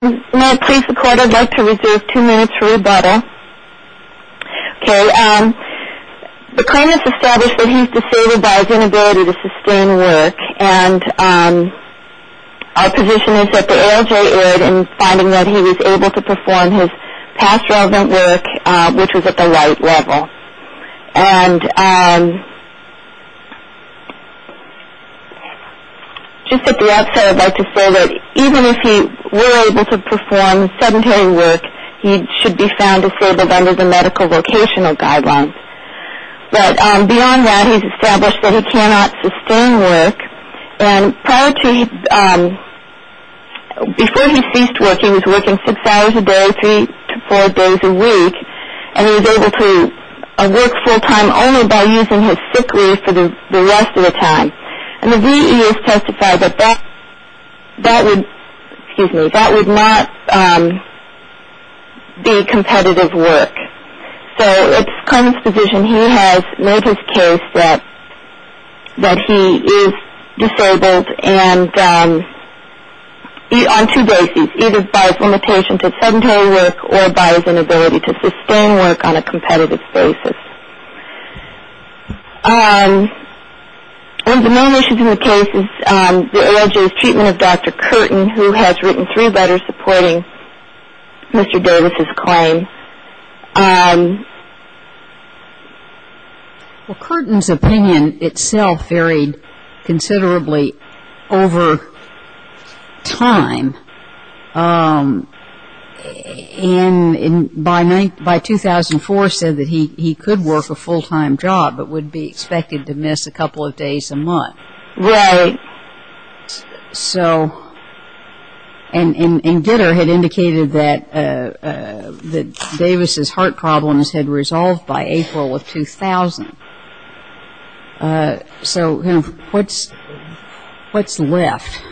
May I please record, I'd like to reserve two minutes for rebuttal. Okay, the claimant's established that he's disabled by his inability to sustain work and our position is that the ALJ erred in finding that he was able to perform his past relevant work, which was at the right level. And just at the outset I'd like to say that even if he were able to perform sedentary work, he should be found disabled under the medical vocational guidelines. But beyond that, he's established that he cannot sustain work. And prior to, before he ceased working, he was working six hours a day, three to four days a week, and he was able to work full-time only by using his sick leave for the rest of the time. And the VEA has testified that that would not be competitive work. So it's the claimant's position he has made his case that he is disabled on two bases, either by his limitation to sedentary work or by his inability to sustain work on a competitive basis. One of the main issues in the case is the ALJ's treatment of Dr. Curtin, who has written three letters supporting Mr. Davis's claim. Well, Curtin's opinion itself varied considerably over time. And by 2004 said that he could work a full-time job but would be expected to miss a couple of days a month. Right. So, and Gitter had indicated that Davis's heart problems had resolved by April of 2000. So what's left?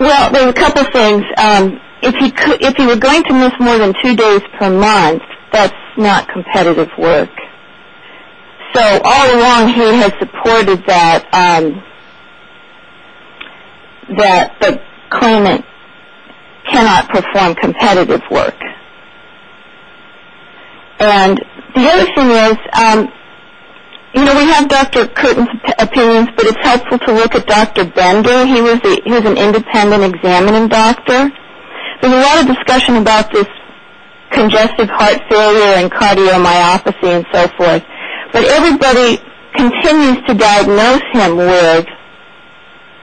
Well, there are a couple of things. If he were going to miss more than two days per month, that's not competitive work. So all along he has supported that the claimant cannot perform competitive work. And the other thing is, you know, we have Dr. Curtin's opinions, but it's helpful to look at Dr. Bender. He was an independent examining doctor. There's a lot of discussion about this congestive heart failure and cardiomyopathy and so forth. But everybody continues to diagnose him with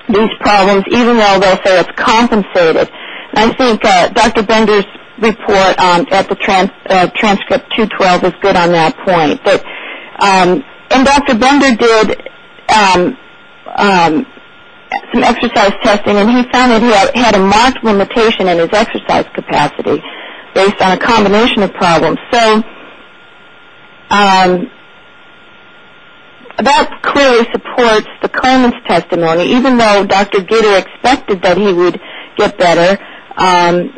these problems, even though they'll say it's compensated. And I think Dr. Bender's report at the transcript 212 is good on that point. And Dr. Bender did some exercise testing, and he found that he had a marked limitation in his exercise capacity based on a combination of problems. So that clearly supports the claimant's testimony, even though Dr. Gitter expected that he would get better. And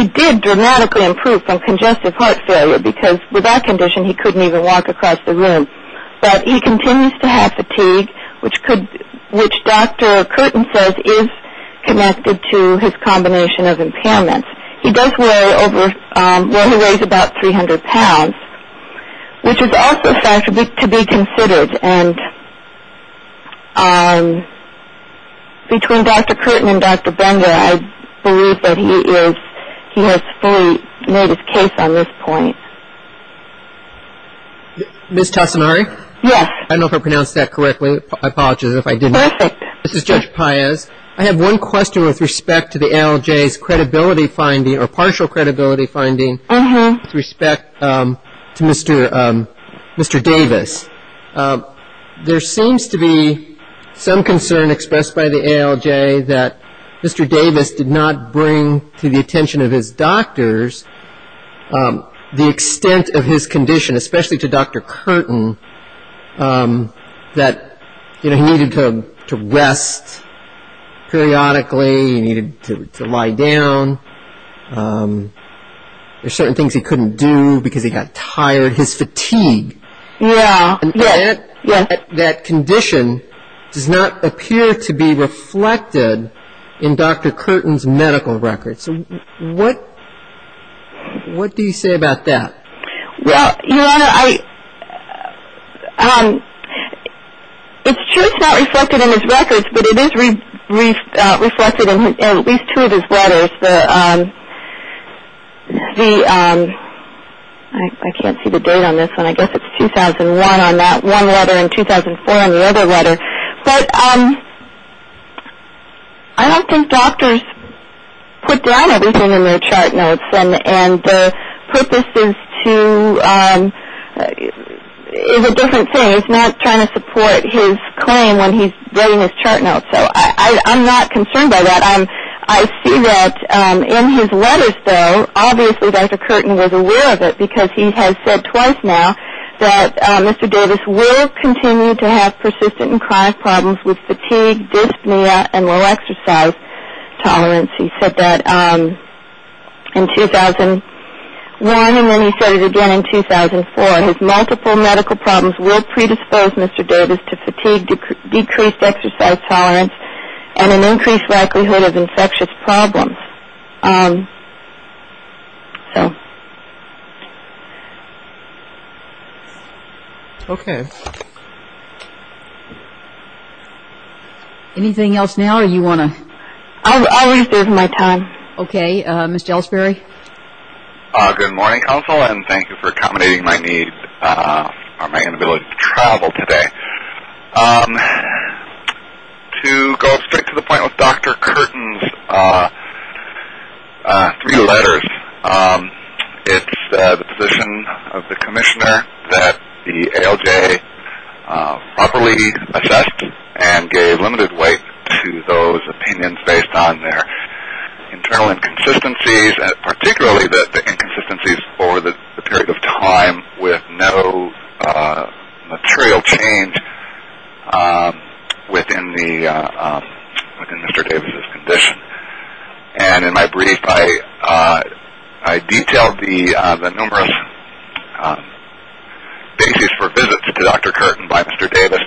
he did dramatically improve from congestive heart failure, because with that condition he couldn't even walk across the room. But he continues to have fatigue, which Dr. Curtin says is connected to his combination of impairments. He does weigh over ñ well, he weighs about 300 pounds, which is also a factor to be considered. And between Dr. Curtin and Dr. Bender, I believe that he has fully made his case on this point. Ms. Tassinari? Yes. I don't know if I pronounced that correctly. I apologize if I didn't. Perfect. This is Judge Paez. I have one question with respect to the ALJ's credibility finding or partial credibility finding with respect to Mr. Davis. There seems to be some concern expressed by the ALJ that Mr. Davis did not bring to the attention of his doctors the extent of his condition, especially to Dr. Curtin, that he needed to rest periodically, he needed to lie down. There are certain things he couldn't do because he got tired, his fatigue. Yes. And that condition does not appear to be reflected in Dr. Curtin's medical records. What do you say about that? Well, Your Honor, it's true it's not reflected in his records, but it is reflected in at least two of his letters. I can't see the date on this one. I guess it's 2001 on that one letter and 2004 on the other letter. But I don't think doctors put down everything in their chart notes. And the purpose is a different thing. It's not trying to support his claim when he's getting his chart notes. So I'm not concerned by that. I see that in his letters, though, obviously Dr. Curtin was aware of it because he has said twice now that Mr. Davis will continue to have persistent and chronic problems with fatigue, dyspnea, and low exercise tolerance. He said that in 2001, and then he said it again in 2004. His multiple medical problems will predispose Mr. Davis to fatigue, decreased exercise tolerance, and an increased likelihood of infectious problems. So. Okay. Anything else now or do you want to? I'll reserve my time. Okay. Mr. Ellsbury? Good morning, counsel, and thank you for accommodating my need for my inability to travel today. To go straight to the point with Dr. Curtin's three letters, it's the position of the commissioner that the ALJ properly assessed and gave limited weight to those opinions based on their internal inconsistencies, particularly the inconsistencies over the period of time with no material change within Mr. Davis's condition. And in my brief, I detailed the numerous basis for visits to Dr. Curtin by Mr. Davis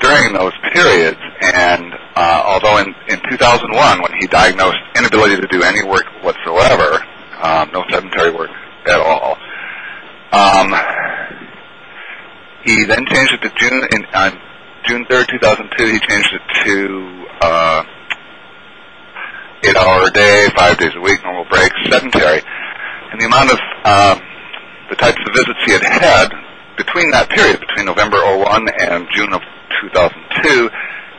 during those periods. And although in 2001, when he diagnosed inability to do any work whatsoever, no sedentary work at all, he then changed it to June 3rd, 2002, he changed it to eight hour a day, five days a week, normal breaks, sedentary. And the amount of the types of visits he had had between that period, between November of 2001 and June of 2002,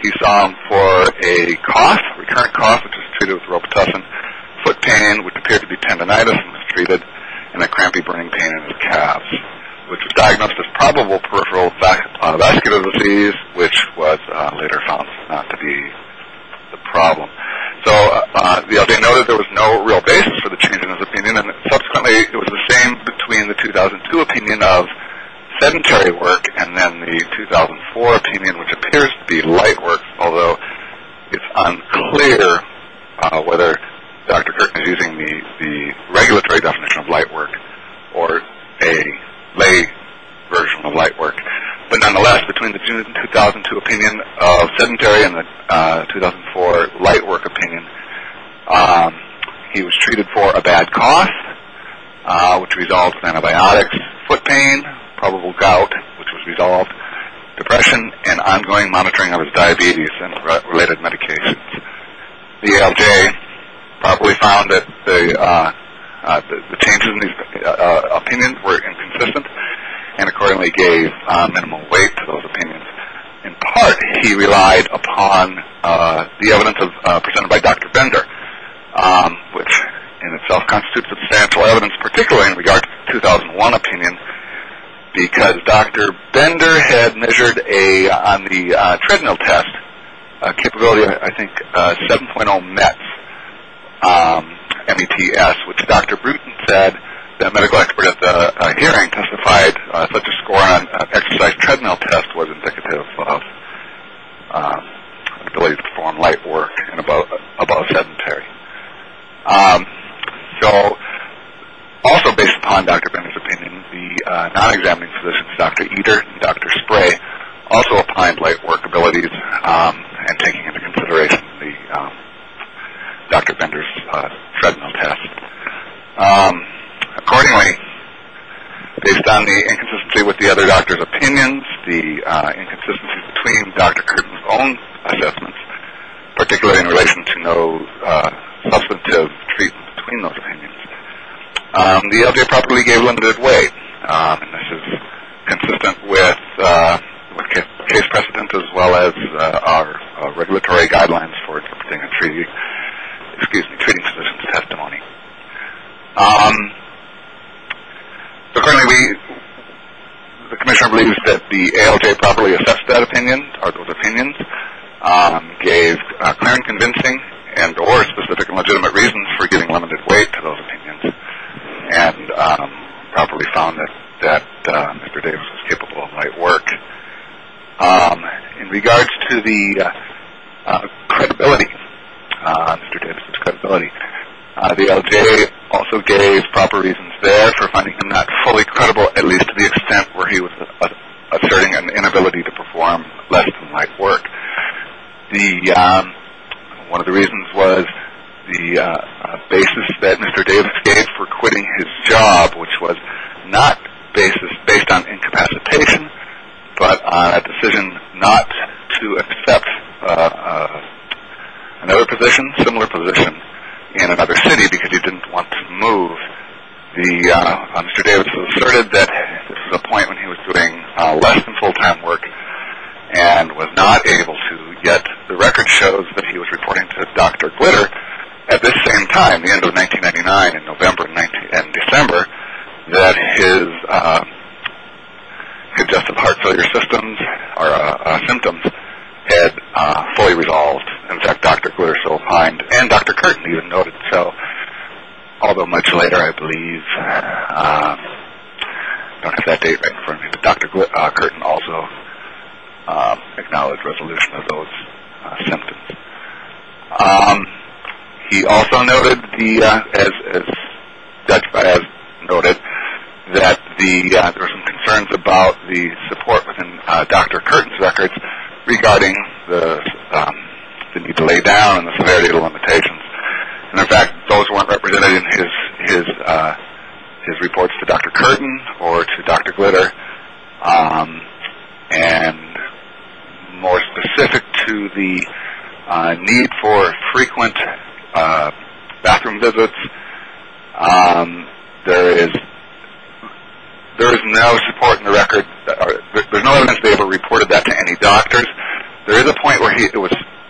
he saw him for a cough, recurrent cough, which was treated with robitussin, foot pain, which appeared to be tendonitis and was treated, and a crampy, burning pain in his calves, which was diagnosed as probable peripheral vascular disease, which was later found not to be the problem. So they noted there was no real basis for the change in his opinion, and subsequently it was the same between the 2002 opinion of sedentary work and then the 2004 opinion, which appears to be light work, although it's unclear whether Dr. Curtin is using the regulatory definition of light work or a lay version of light work. But nonetheless, between the June 2002 opinion of sedentary and the 2004 light work opinion, he was treated for a bad cough, which resolved with antibiotics, foot pain, probable gout, which was resolved, depression, and ongoing monitoring of his diabetes and related medications. The ALJ probably found that the changes in his opinion were inconsistent and accordingly gave minimal weight to those opinions. In part, he relied upon the evidence presented by Dr. Bender, which in itself constitutes substantial evidence, particularly in regard to the 2001 opinion, because Dr. Bender had measured on the treadmill test a capability of, I think, 7.0 METS, M-E-T-S, which Dr. Bruton said that a medical expert at the hearing testified such a score on an exercise treadmill test was indicative of the ability to perform light work and above sedentary. So also based upon Dr. Bender's opinion, the non-examining physicians, Dr. Eder and Dr. Spray, also applied light work abilities and taking into consideration Dr. Bender's treadmill test. Accordingly, based on the inconsistency with the other doctors' opinions, the inconsistency between Dr. Curtin's own assessments, particularly in relation to no substantive treatment between those opinions, the ALJ probably gave limited weight. This is consistent with case precedent as well as our regulatory guidelines for treating physicians' testimony. So currently the commissioner believes that the ALJ properly assessed that opinion or those opinions, gave clear and convincing and or specific and legitimate reasons for giving limited weight to those opinions, and properly found that Mr. Davis was capable of light work. In regards to the credibility, Mr. Davis' credibility, the ALJ also gave proper reasons there for finding him not fully credible, at least to the extent where he was asserting an inability to perform less than light work. One of the reasons was the basis that Mr. Davis gave for quitting his job, which was not based on incapacitation but on a decision not to accept another position, similar position in another city because he didn't want to move. Mr. Davis asserted that this was a point when he was doing less than full-time work and was not able to get the record shows that he was reporting to Dr. Glitter. However, at this same time, the end of 1999, in November and December, that his congestive heart failure symptoms had fully resolved. In fact, Dr. Glitter still opined and Dr. Curtin even noted. So although much later I believe, I don't have that date right in front of me, but Dr. Curtin also acknowledged resolution of those symptoms. He also noted that there were some concerns about the support within Dr. Curtin's records regarding the need to lay down and the severity of the limitations. And in fact, those weren't represented in his reports to Dr. Curtin or to Dr. Glitter. And more specific to the need for frequent bathroom visits, there is no support in the record. There's no evidence Davis reported that to any doctors. There is a point where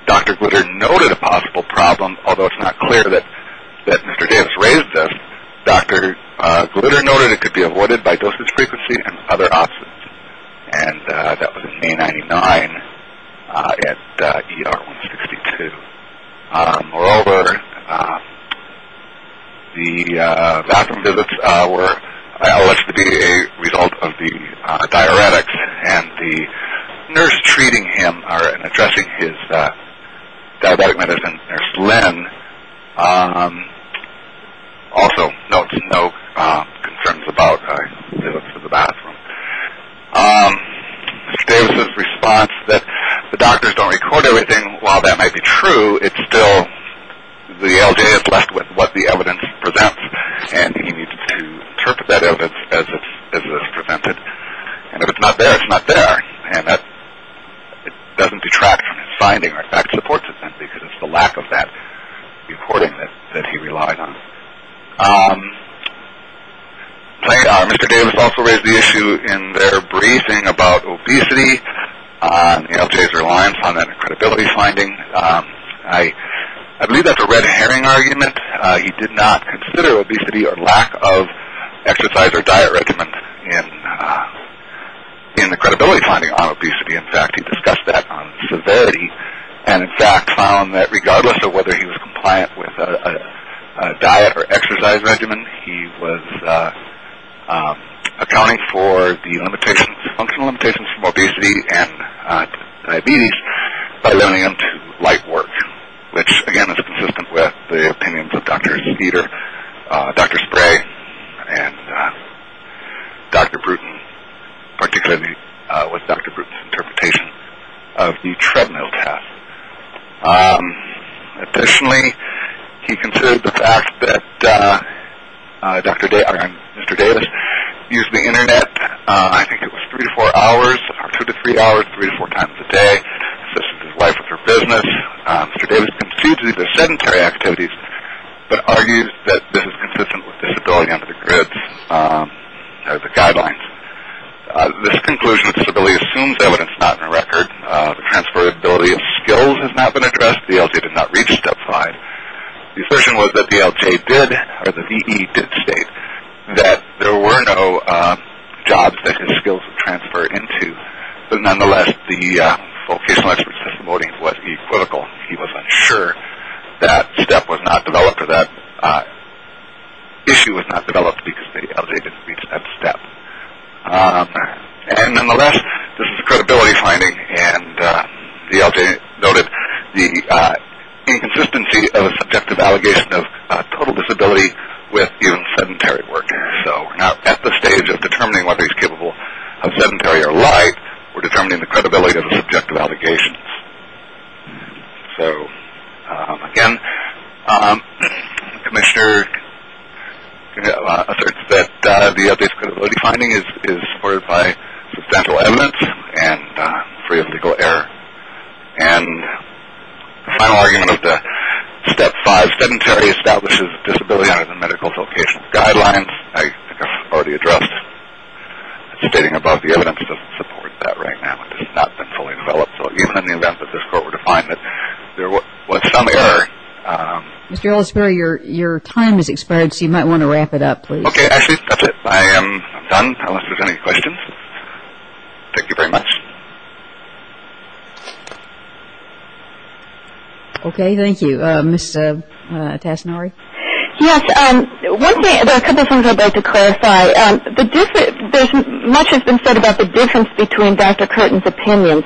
Dr. Glitter noted a possible problem, although it's not clear that Mr. Davis raised this. Dr. Glitter noted it could be avoided by dosage frequency and other options. And that was in May 1999 at ER 162. Moreover, the bathroom visits were alleged to be a result of the diuretics and the nurse treating him or addressing his diabetic medicine nurse Lynn also notes no concerns about visits to the bathroom. Mr. Davis' response that the doctors don't record everything, while that might be true, it's still the LJ is left with what the evidence presents, and he needs to interpret that evidence as it is presented. And if it's not there, it's not there. And that doesn't detract from his finding. In fact, it supports it then because it's the lack of that recording that he relied on. Mr. Davis also raised the issue in their briefing about obesity, LJ's reliance on that credibility finding. I believe that's a red herring argument. He did not consider obesity or lack of exercise or diet regimen in the credibility finding on obesity. In fact, he discussed that on severity and, in fact, found that regardless of whether he was compliant with a diet or exercise regimen, he was accounting for the limitations, functional limitations from obesity and diabetes by limiting them to light work, which, again, is consistent with the opinions of Dr. Speeder, Dr. Spray, and Dr. Bruton, particularly with Dr. Bruton's interpretation of the treadmill test. Additionally, he considered the fact that Mr. Davis used the Internet, I think it was three to four hours, two to three hours, three to four times a day, assisted his wife with her business. Mr. Davis conceded these are sedentary activities, but argued that this is consistent with disability under the GRIDS guidelines. This conclusion of disability assumes evidence not in the record. The transferability of skills has not been addressed. The LJ did not reach step five. The assertion was that the LJ did, or the VE did state, that there were no jobs that his skills would transfer into. But nonetheless, the vocational expert's testimony was equivocal. He was unsure that step was not developed or that issue was not developed because the LJ didn't reach that step. And nonetheless, this is a credibility finding, and the LJ noted the inconsistency of a subjective allegation of total disability with even sedentary work. So we're not at the stage of determining whether he's capable of sedentary or light. We're determining the credibility of the subjective allegations. So again, the commissioner asserts that the LJ's credibility finding is supported by substantial evidence and free of legal error. And the final argument of the step five, sedentary establishes disability under the medical vocational guidelines, I think I've already addressed, stating above, the evidence doesn't support that right now. It has not been fully developed. So even in the event that this court were to find that there was some error. Mr. Ellisbury, your time has expired, so you might want to wrap it up, please. Okay, Ashley, that's it. I am done, unless there's any questions. Thank you very much. Okay, thank you. Ms. Tassinari? Yes, there are a couple of things I'd like to clarify. Much has been said about the difference between Dr. Curtin's opinions,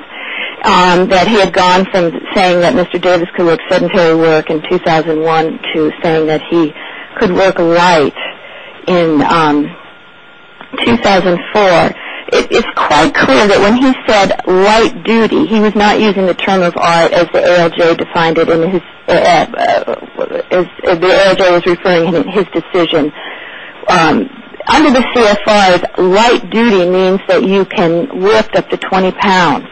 that he had gone from saying that Mr. Davis could work sedentary work in 2001 to saying that he could work light in 2004. It's quite clear that when he said light duty, he was not using the term of art as the ALJ was referring to in his decision. Under the CFRs, light duty means that you can lift up to 20 pounds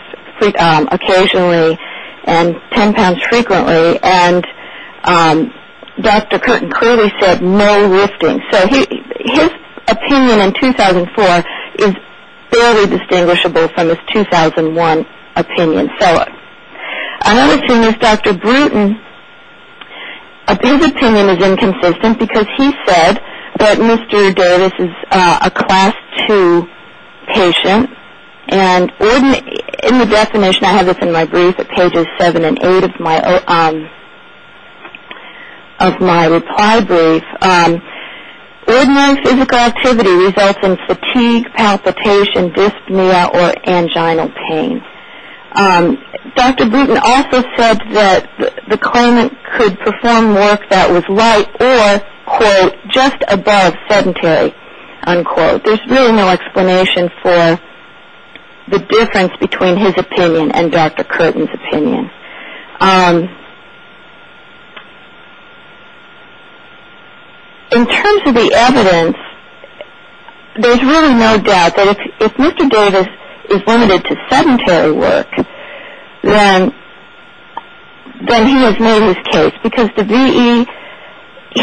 occasionally and 10 pounds frequently, and Dr. Curtin clearly said no lifting. So his opinion in 2004 is fairly distinguishable from his 2001 opinion. Another thing is Dr. Bruton, his opinion is inconsistent because he said that Mr. Davis is a Class II patient, and in the definition, I have this in my brief at pages 7 and 8 of my reply brief, ordinary physical activity results in fatigue, palpitation, dyspnea, or angina pain. Dr. Bruton also said that the claimant could perform work that was light or, quote, just above sedentary, unquote. There's really no explanation for the difference between his opinion and Dr. Curtin's opinion. In terms of the evidence, there's really no doubt that if Mr. Davis is limited to sedentary work, then he has made his case because the VE,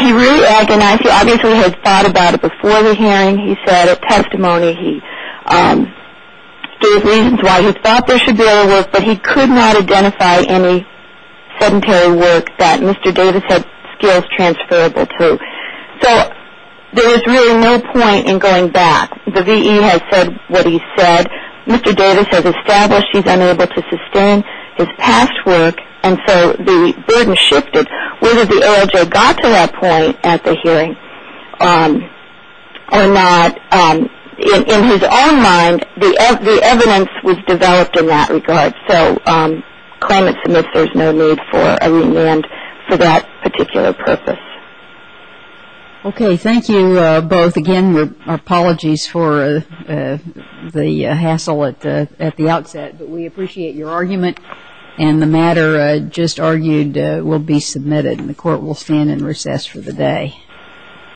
he really agonized, he obviously had thought about it before the hearing, he said at testimony, he gave reasons why he thought there should be other work, but he could not identify any sedentary work that Mr. Davis had skills transferable to. So there is really no point in going back. The VE has said what he said. Mr. Davis has established he's unable to sustain his past work, and so the burden shifted. Whether the OOJ got to that point at the hearing or not, in his own mind, the evidence was developed in that regard. So claimant submits there's no need for a remand for that particular purpose. Okay, thank you both. Again, our apologies for the hassle at the outset, but we appreciate your argument. And the matter just argued will be submitted, and the court will stand in recess for the day.